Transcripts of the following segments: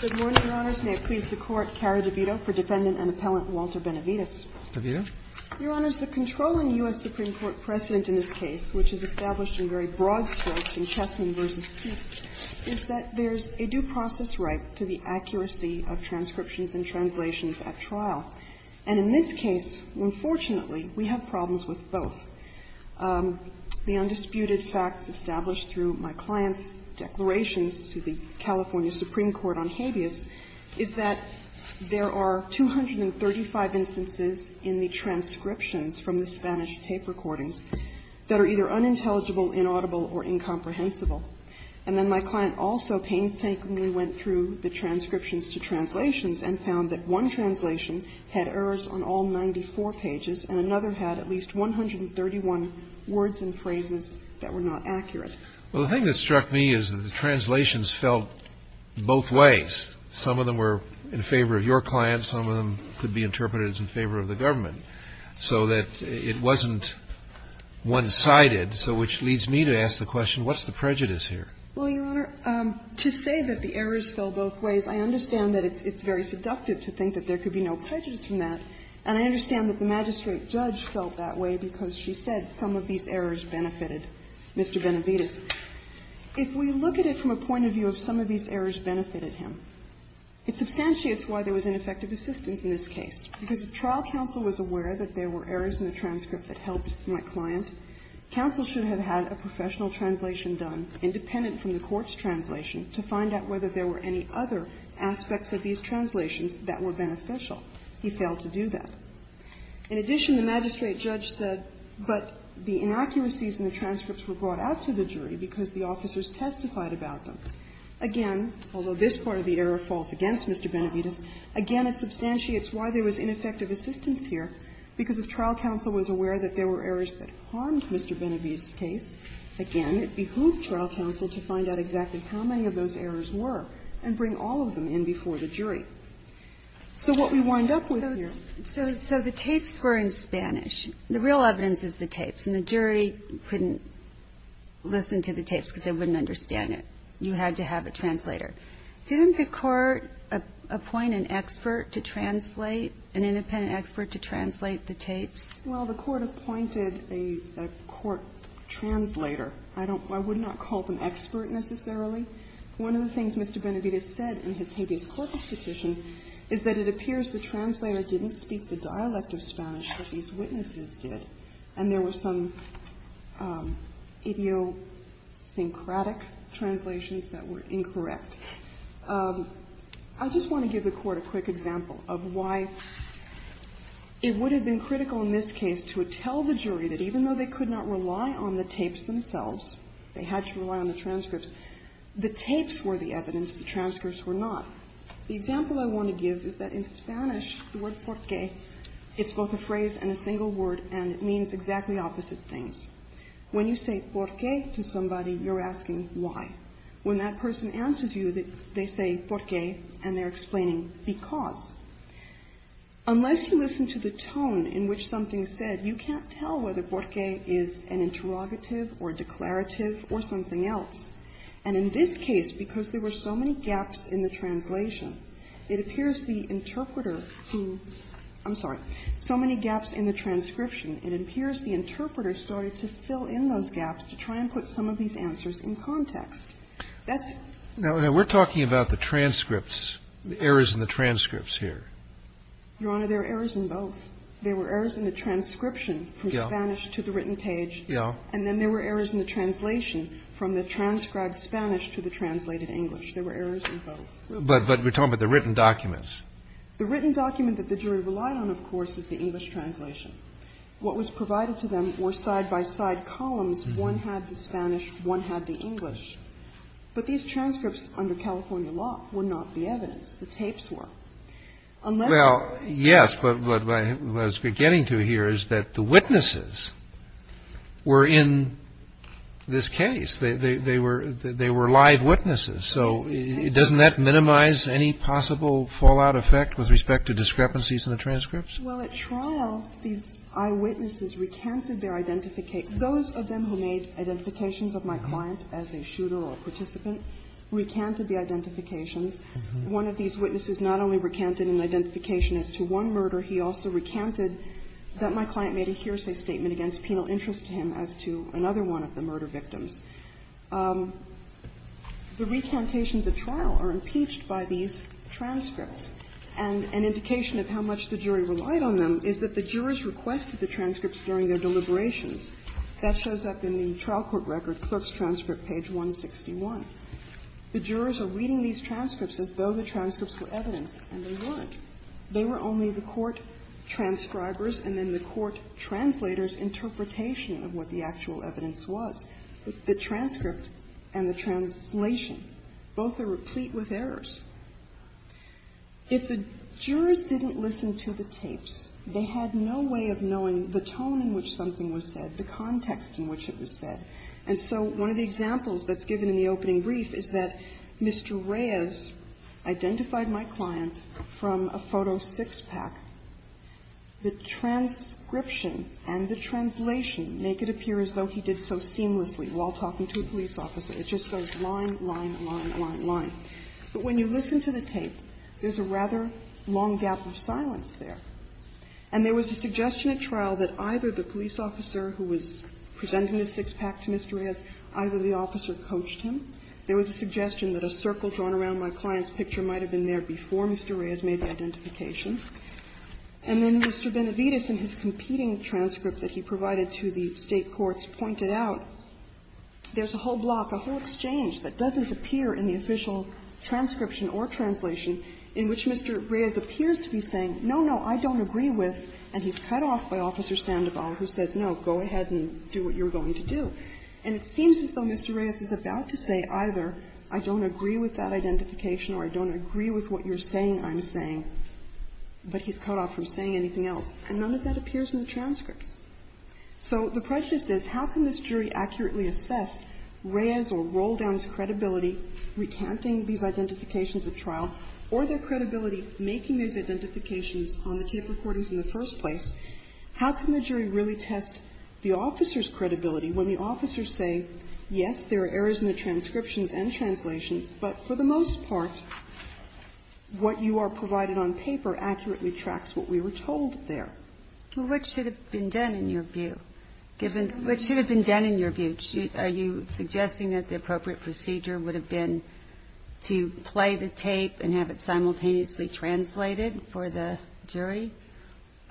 Good morning, Your Honors. May it please the Court, Carrie DeVito for Defendant and Appellant Walter Benavides. DeVito. Your Honors, the controlling U.S. Supreme Court precedent in this case, which is established in very broad strokes in Chessman v. Keats, is that there's a due process right to the accuracy of transcriptions and translations at trial. And in this case, unfortunately, we have problems with both. The undisputed facts established through my client's declarations to the California Supreme Court on habeas is that there are 235 instances in the transcriptions from the Spanish tape recordings that are either unintelligible, inaudible, or incomprehensible. And then my client also painstakingly went through the transcriptions to translations and found that one translation had errors on all 94 pages and another had at least 131 words and phrases that were not accurate. Well, the thing that struck me is that the translations felt both ways. Some of them were in favor of your client. Some of them could be interpreted as in favor of the government. So that it wasn't one-sided, so which leads me to ask the question, what's the prejudice here? Well, Your Honor, to say that the errors fell both ways, I understand that it's very seductive to think that there could be no prejudice from that. And I understand that the magistrate judge felt that way because she said some of these errors benefited Mr. Benavides. If we look at it from a point of view of some of these errors benefited him, it substantiates why there was ineffective assistance in this case. Because if trial counsel was aware that there were errors in the transcript that helped my client, counsel should have had a professional translation done independent from the court's translation to find out whether there were any other aspects of these translations that were beneficial. He failed to do that. In addition, the magistrate judge said, but the inaccuracies in the transcripts were brought out to the jury because the officers testified about them. Again, although this part of the error falls against Mr. Benavides, again, it substantiates why there was ineffective assistance here. Because if trial counsel was aware that there were errors that harmed Mr. Benavides' case, again, it behooved trial counsel to find out exactly how many of those errors were and bring all of them in before the jury. So what we wind up with here So the tapes were in Spanish. The real evidence is the tapes. And the jury couldn't listen to the tapes because they wouldn't understand it. You had to have a translator. Didn't the Court appoint an expert to translate, an independent expert to translate the tapes? Well, the Court appointed a court translator. I don't – I would not call them expert necessarily. One of the things Mr. Benavides said in his habeas corpus petition is that it appears the translator didn't speak the dialect of Spanish, but these witnesses did. And there were some idiosyncratic translations that were incorrect. I just want to give the Court a quick example of why it would have been critical in this case to tell the jury that even though they could not rely on the tapes themselves, they had to rely on the transcripts, the tapes were the evidence, the transcripts were not. The example I want to give is that in Spanish, the word por qué, it's both a phrase and a single word, and it means exactly opposite things. When you say por qué to somebody, you're asking why. When that person answers you, they say por qué, and they're explaining because. Unless you listen to the tone in which something is said, you can't tell whether por qué is an interrogative or declarative or something else. And in this case, because there were so many gaps in the translation, it appears the interpreter who – I'm sorry, so many gaps in the transcription, it appears the interpreter started to fill in those gaps to try and put some of these answers in context. That's – Now, we're talking about the transcripts, the errors in the transcripts here. Your Honor, there are errors in both. There were errors in the transcription from Spanish to the written page. Yeah. And then there were errors in the translation from the transcribed Spanish to the translated English. There were errors in both. But we're talking about the written documents. The written document that the jury relied on, of course, is the English translation. What was provided to them were side-by-side columns. One had the Spanish, one had the English. But these transcripts under California law were not the evidence. The tapes were. Well, yes, but what I was beginning to hear is that the witnesses were in this case. They were live witnesses. So doesn't that minimize any possible fallout effect with respect to discrepancies in the transcripts? Well, at trial, these eyewitnesses recanted their identification. Those of them who made identifications of my client as a shooter or participant recanted the identifications. One of these witnesses not only recanted an identification as to one murder, he also recanted that my client made a hearsay statement against penal interest to him as to another one of the murder victims. The recantations at trial are impeached by these transcripts. And an indication of how much the jury relied on them is that the jurors requested the transcripts during their deliberations. That shows up in the trial court record, clerk's transcript, page 161. The jurors are reading these transcripts as though the transcripts were evidence, and they weren't. They were only the court transcribers and then the court translators' interpretation of what the actual evidence was. The transcript and the translation, both are replete with errors. If the jurors didn't listen to the tapes, they had no way of knowing the tone in which something was said, the context in which it was said. And so one of the examples that's given in the opening brief is that Mr. Reyes identified my client from a photo six-pack. The transcription and the translation make it appear as though he did so seamlessly while talking to a police officer. It just goes line, line, line, line, line. But when you listen to the tape, there's a rather long gap of silence there. And there was a suggestion at trial that either the police officer who was presenting the six-pack to Mr. Reyes, either the officer coached him. There was a suggestion that a circle drawn around my client's picture might have been there before Mr. Reyes made the identification. And then Mr. Benavides, in his competing transcript that he provided to the State courts, pointed out there's a whole block, a whole exchange that doesn't appear in the official transcription or translation in which Mr. Reyes appears to be saying, no, no, I don't agree with, and he's cut off by Officer Sandoval who says, no, go ahead and do what you're going to do. And it seems as though Mr. Reyes is about to say either I don't agree with that identification or I don't agree with what you're saying I'm saying, but he's cut off from saying anything else. And none of that appears in the transcripts. So the prejudice is, how can this jury accurately assess Reyes' or Roldown's credibility recanting these identifications at trial or their credibility making these identifications on the tape recordings in the first place? How can the jury really test the officer's credibility when the officers say, yes, there are errors in the transcriptions and translations, but for the most part, what you are provided on paper accurately tracks what we were told there? Ginsburg-Millett, which should have been done in your view, given what should have been done in your view? Are you suggesting that the appropriate procedure would have been to play the tape and have it simultaneously translated for the jury?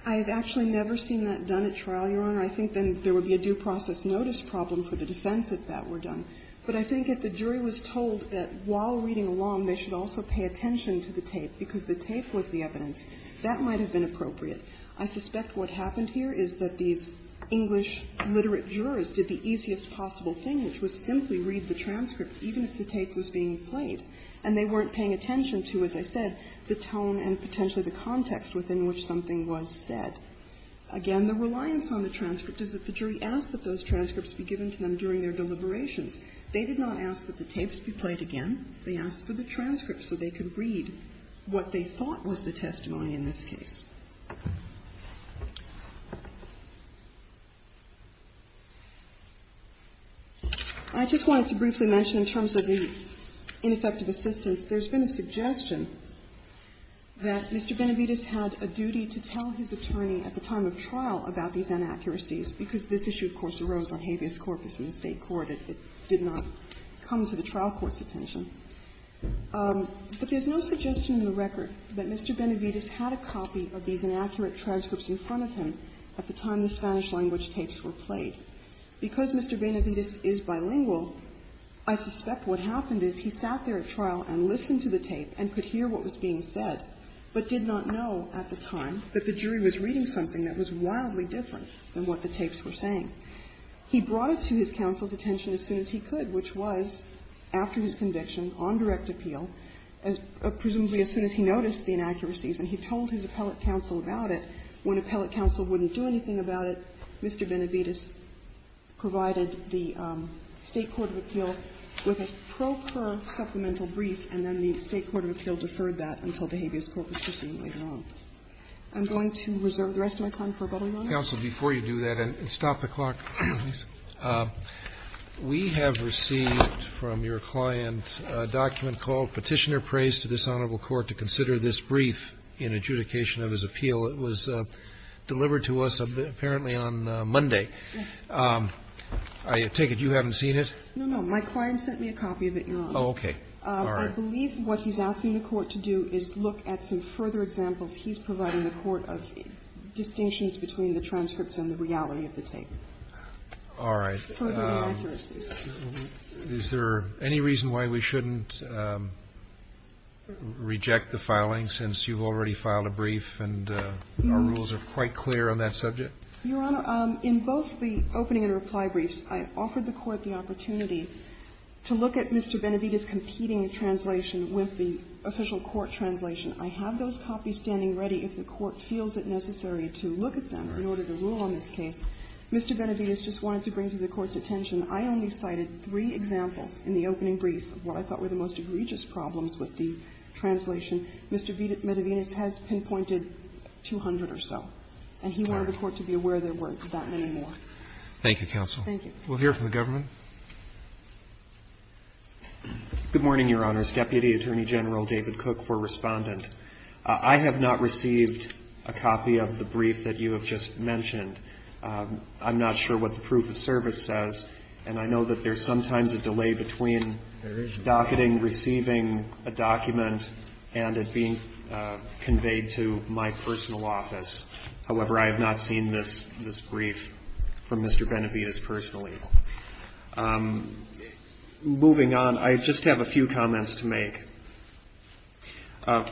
I have actually never seen that done at trial, Your Honor. I think then there would be a due process notice problem for the defense if that were done. But I think if the jury was told that while reading along, they should also pay attention to the tape because the tape was the evidence, that might have been appropriate. I suspect what happened here is that these English literate jurors did the easiest possible thing, which was simply read the transcript, even if the tape was being played, and they weren't paying attention to, as I said, the tone and potentially the context within which something was said. Again, the reliance on the transcript is that the jury asked that those transcripts be given to them during their deliberations. They did not ask that the tapes be played again. They asked for the transcript so they could read what they thought was the testimony in this case. I just wanted to briefly mention in terms of the ineffective assistance, there's been a suggestion that Mr. Benavides had a duty to tell his attorney at the time of trial about these inaccuracies because this issue, of course, arose on habeas corpus in the State court. It did not come to the trial court's attention. But there's no suggestion in the record that Mr. Benavides had a copy of these inaccurate transcripts in front of him at the time the Spanish-language tapes were played. Because Mr. Benavides is bilingual, I suspect what happened is he sat there at trial and listened to the tape and could hear what was being said, but did not know at the time that the jury was reading something that was wildly different than what the tapes were saying. He brought it to his counsel's attention as soon as he could, which was after his conviction on direct appeal, presumably as soon as he noticed the inaccuracies, and he told his appellate counsel about it. When appellate counsel wouldn't do anything about it, Mr. Benavides provided the State court of appeal with a procur supplemental brief, and then the State court of appeal deferred that until the habeas corpus was seen later on. I'm going to reserve the rest of my time for about a minute. Roberts. Roberts. Counsel, before you do that, and stop the clock, please. We have received from your client a document called Petitioner prays to this Honorable Court to consider this brief in adjudication of his appeal. It was delivered to us apparently on Monday. I take it you haven't seen it? No, no. My client sent me a copy of it, Your Honor. Oh, okay. All right. I believe what he's asking the Court to do is look at some further examples he's providing the Court of distinctions between the transcripts and the reality of the tape. All right. Further inaccuracies. Is there any reason why we shouldn't reject the filing, since you've already filed a brief and our rules are quite clear on that subject? Your Honor, in both the opening and reply briefs, I offered the Court the opportunity to look at Mr. Benavides' competing translation with the official court translation. I have those copies standing ready if the Court feels it necessary to look at them in order to rule on this case. Mr. Benavides just wanted to bring to the Court's attention, I only cited three examples in the opening brief of what I thought were the most egregious problems with the translation. Mr. Benavides has pinpointed 200 or so. And he wanted the Court to be aware there weren't that many more. Thank you, counsel. Thank you. We'll hear from the government. Good morning, Your Honors. Deputy Attorney General David Cook for Respondent. I have not received a copy of the brief that you have just mentioned. I'm not sure what the proof of service says, and I know that there's sometimes a delay between docketing, receiving a document, and it being conveyed to my personal office. However, I have not seen this brief from Mr. Benavides personally. Moving on, I just have a few comments to make.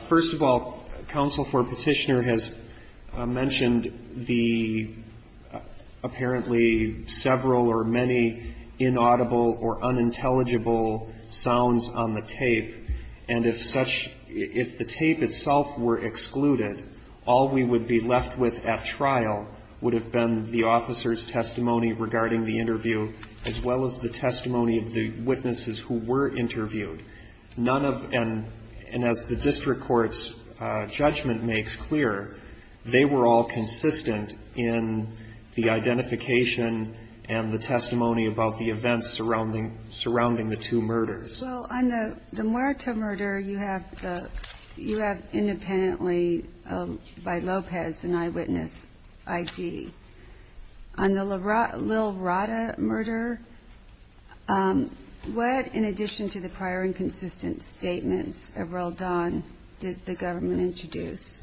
First of all, counsel, for Petitioner has mentioned the apparently several or many inaudible or unintelligible sounds on the tape. And if such – if the tape itself were excluded, all we would be left with at trial would have been the officer's testimony regarding the interview, as well as the testimony of the witnesses who were interviewed. None of – and as the district court's judgment makes clear, they were all consistent in the identification and the testimony about the events surrounding the two murders. Well, on the Muerta murder, you have the – you have independently by Lopez an eyewitness ID. On the Lil-Rata murder, what, in addition to the prior and consistent statements of Roald Dahn, did the government introduce?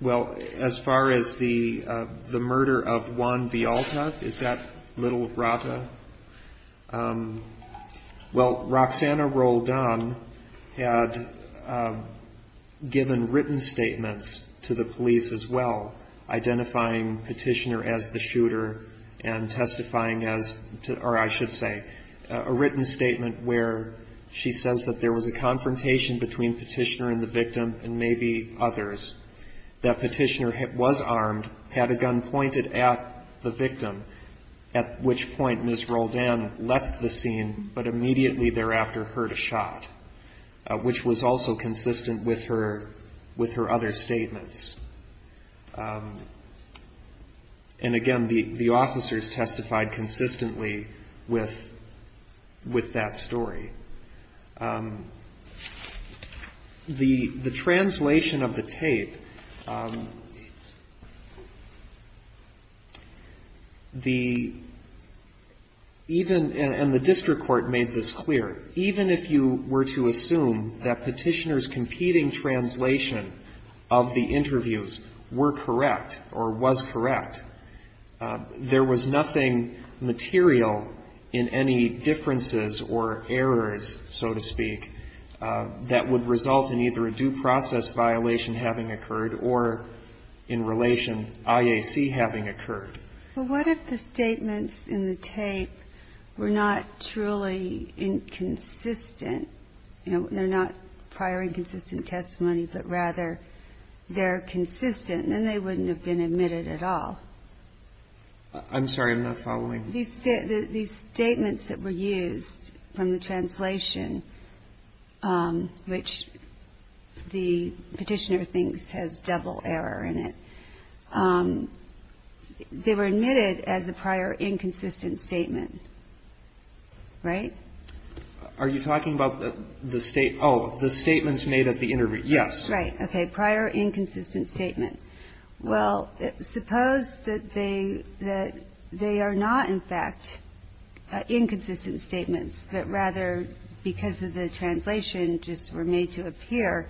Well, as far as the murder of Juan Vialta, is that Lil-Rata? Well, Roxana Roald Dahn had given written statements to the police as well, identifying Petitioner as the shooter and testifying as – or I should say, a written statement where she says that there was a confrontation between Petitioner and the victim and maybe others. That Petitioner was armed, had a gun pointed at the victim, at which point Ms. Roald Dahn left the scene, but immediately thereafter heard a shot, which was also consistent with her – with her other statements. And again, the officers testified consistently with that story. The translation of the tape, the – even – and the district court made this clear. Even if you were to assume that Petitioner's competing translation of the interviews were correct or was correct, there was nothing material in any differences or errors, so to speak, that would result in either a due process violation having occurred or, in relation, IAC having occurred. But what if the statements in the tape were not truly inconsistent? You know, they're not prior inconsistent testimony, but rather they're consistent, then they wouldn't have been admitted at all. I'm sorry. I'm not following. These statements that were used from the translation, which the Petitioner thinks has double error in it, they were admitted as a prior inconsistent statement. Right? Are you talking about the state – oh, the statements made at the interview. Yes. Right. Okay. Prior inconsistent statement. Well, suppose that they – that they are not, in fact, inconsistent statements, but rather because of the translation just were made to appear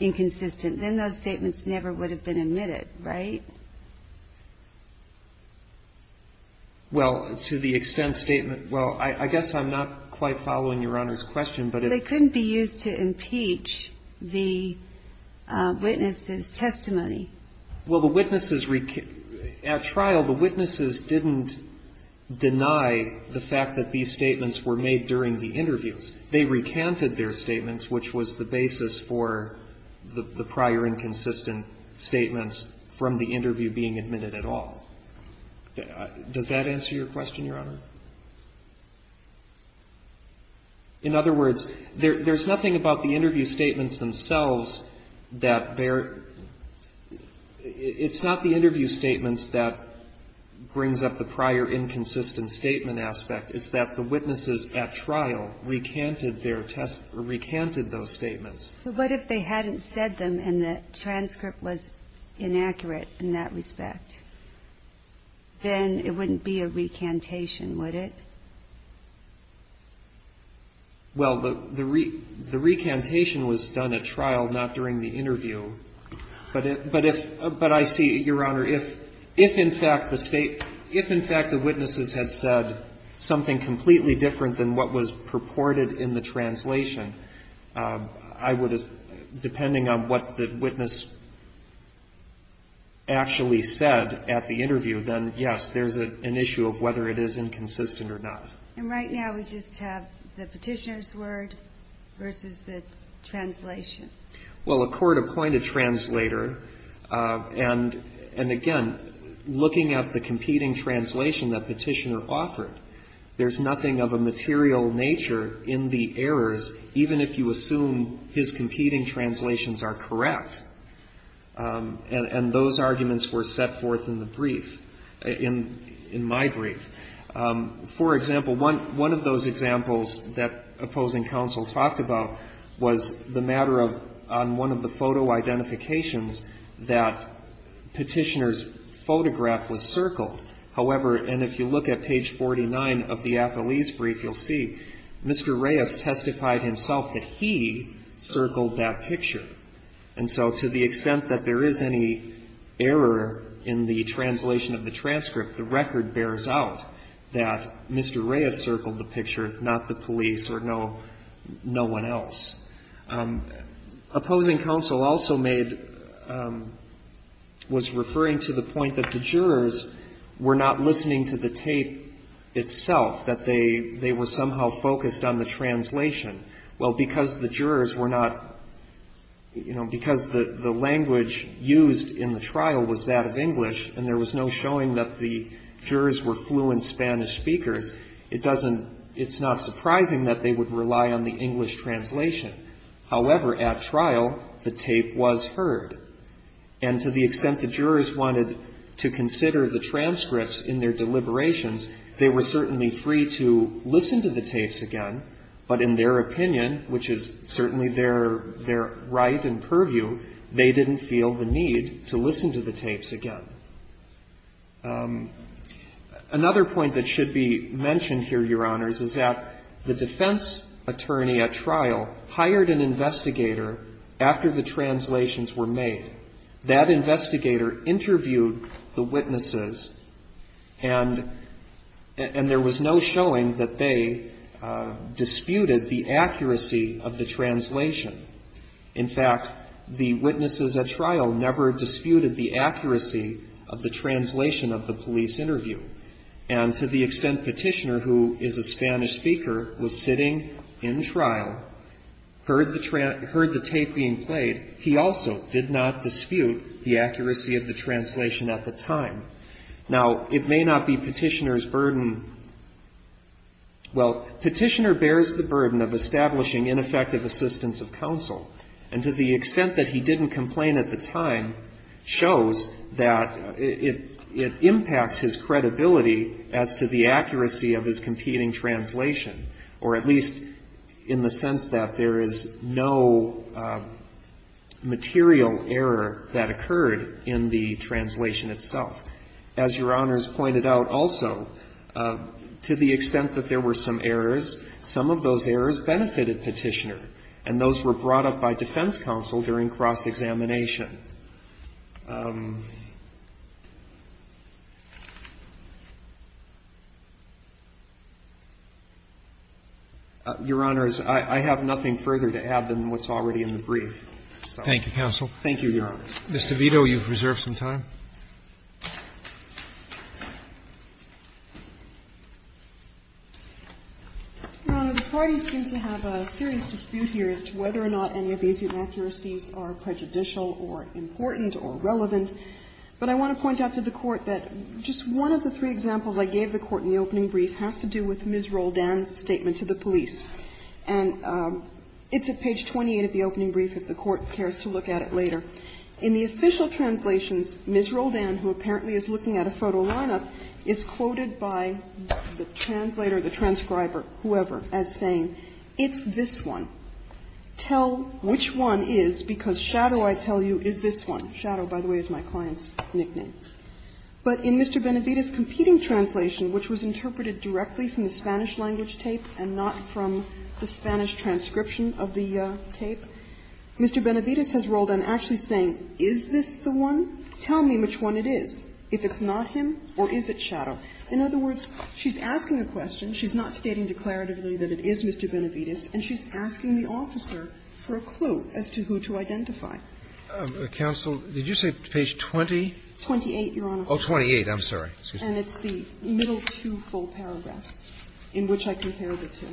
inconsistent, then those statements never would have been admitted, right? Well, to the extent statement – well, I guess I'm not quite following Your Honor's question, but if – They couldn't be used to impeach the witness's testimony. Well, the witnesses – at trial, the witnesses didn't deny the fact that these statements were made during the interviews. They recanted their statements, which was the basis for the prior inconsistent statements from the interview being admitted at all. Does that answer your question, Your Honor? In other words, there's nothing about the interview statements themselves that they're – it's not the interview statements that brings up the prior inconsistent statement aspect. It's that the witnesses at trial recanted their – recanted those statements. But what if they hadn't said them and the transcript was inaccurate in that respect? Then it wouldn't be a recantation, would it? Well, the recantation was done at trial, not during the interview. But if – but I see, Your Honor, if in fact the state – if in fact the witnesses had said something completely different than what was purported in the translation, I would – depending on what the witness actually said at the interview, then yes, there's an issue of whether it is inconsistent or not. And right now we just have the petitioner's word versus the translation. Well, a court appointed translator, and again, looking at the competing translation that petitioner offered, there's nothing of a material nature in the errors, even if you assume his competing translations are correct. And those arguments were set forth in the brief, in my brief. For example, one of those examples that opposing counsel talked about was the matter of – on one of the photo identifications that petitioner's photograph was circled. However, and if you look at page 49 of the appellee's brief, you'll see Mr. Reyes testified himself that he circled that picture. And so to the extent that there is any error in the translation of the transcript, the record bears out that Mr. Reyes circled the picture, not the police or no one else. Opposing counsel also made – was referring to the point that the jurors were not listening to the tape itself, that they were somehow focused on the translation. Well, because the jurors were not – you know, because the language used in the trial was that of English and there was no showing that the jurors were fluent Spanish speakers, it doesn't – it's not surprising that they would rely on the English translation. However, at trial, the tape was heard. And to the extent the jurors wanted to consider the transcripts in their deliberations, they were certainly free to listen to the tapes again, but in their opinion, which is certainly their right and purview, they didn't feel the need to listen to the tapes again. Another point that should be mentioned here, Your Honors, is that the defense attorney at trial hired an investigator after the translations were made. That investigator interviewed the witnesses, and there was no showing that they disputed the accuracy of the translation. In fact, the witnesses at trial never disputed the accuracy of the translation of the police interview. And to the extent Petitioner, who is a Spanish speaker, was sitting in trial, heard the tape being played, he also did not dispute the accuracy of the translation at the time. Now, it may not be Petitioner's burden – well, Petitioner bears the burden of establishing ineffective assistance of counsel. And to the extent that he didn't complain at the time shows that it impacts his credibility as to the accuracy of his competing translation, or at least in the sense that there is no material error that occurred in the translation itself. As Your Honors pointed out also, to the extent that there were some errors, some of those errors benefited Petitioner, and those were brought up by defense counsel during cross-examination. Your Honors, I have nothing further to add than what's already in the brief. Thank you, counsel. Thank you, Your Honors. Ms. DeVito, you've reserved some time. The parties seem to have a serious dispute here as to whether or not any of these inaccuracies are prejudicial or important or relevant, but I want to point out to the Court that just one of the three examples I gave the Court in the opening brief has to do with Ms. Roldan's statement to the police. And it's at page 28 of the opening brief, if the Court cares to look at it later. In the official translations, Ms. Roldan, who apparently is looking at a photo lineup, is quoted by the translator, the transcriber, whoever, as saying, it's this one. Tell which one is, because Shadow, I tell you, is this one. Shadow, by the way, is my client's nickname. But in Mr. Benavides' competing translation, which was interpreted directly from the Spanish language tape and not from the Spanish transcription of the tape, Mr. Benavides has Roldan actually saying, is this the one? Tell me which one it is. If it's not him, or is it Shadow? In other words, she's asking a question. She's not stating declaratively that it is Mr. Benavides, and she's asking the officer for a clue as to who to identify. Roberts, did you say page 20? 28, Your Honor. Oh, 28. I'm sorry. And it's the middle two full paragraphs in which I compared the two.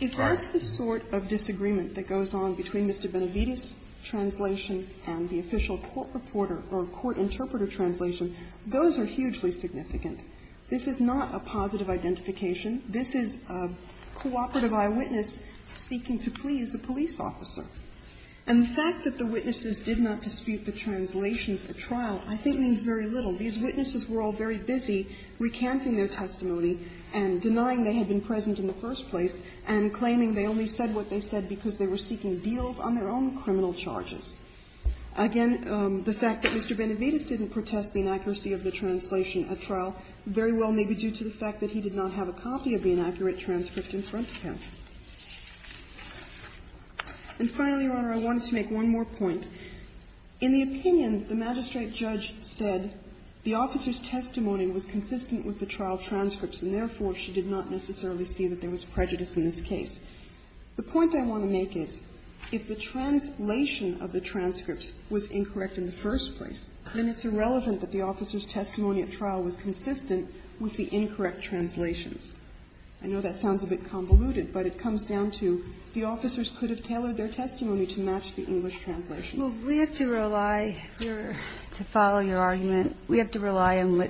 If that's the sort of disagreement that goes on between Mr. Benavides' translation and the official court reporter or court interpreter translation, those are hugely significant. This is not a positive identification. This is a cooperative eyewitness seeking to please a police officer. And the fact that the witnesses did not dispute the translations at trial, I think, means very little. These witnesses were all very busy recanting their testimony and denying they had been present in the first place and claiming they only said what they said because they were seeking deals on their own criminal charges. Again, the fact that Mr. Benavides didn't protest the inaccuracy of the translation at trial very well may be due to the fact that he did not have a copy of the inaccurate transcript in front of him. And finally, Your Honor, I wanted to make one more point. In the opinion, the magistrate judge said the officer's testimony was consistent with the trial transcripts, and therefore, she did not necessarily see that there was prejudice in this case. The point I want to make is if the translation of the transcripts was incorrect in the first place, then it's irrelevant that the officer's testimony at trial was consistent with the incorrect translations. I know that sounds a bit convoluted, but it comes down to the officers could have We have to rely, to follow your argument, we have to rely on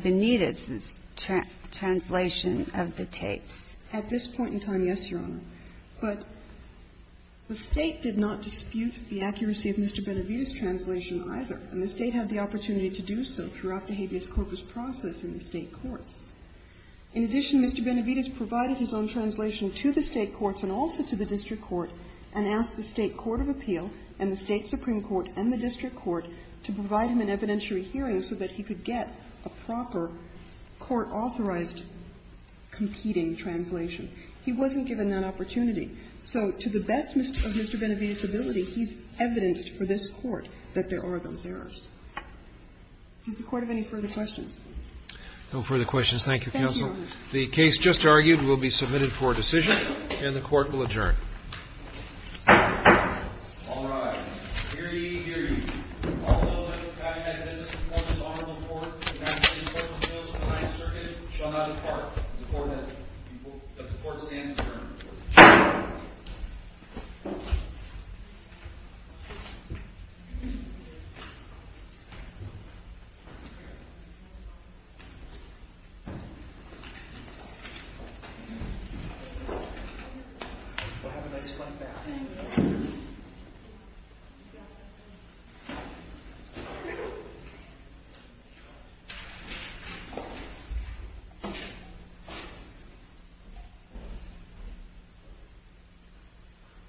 Benitez's translation of the tapes. At this point in time, yes, Your Honor. But the State did not dispute the accuracy of Mr. Benavides' translation either. And the State had the opportunity to do so throughout the habeas corpus process in the State courts. In addition, Mr. Benavides provided his own translation to the State courts and also to the district court and asked the State court of appeal and the State supreme court and the district court to provide him an evidentiary hearing so that he could get a proper court-authorized competing translation. He wasn't given that opportunity. So to the best of Mr. Benavides' ability, he's evidenced for this Court that there are those errors. Does the Court have any further questions? No further questions. Thank you, counsel. Thank you, Your Honor. The case just argued will be submitted for decision, and the Court will adjourn. All rise. Hear ye, hear ye. All those who have had evidence before this Honorable Court to match the importance of the Ninth Circuit shall not depart. The Court stands adjourned. We'll have a nice flight back.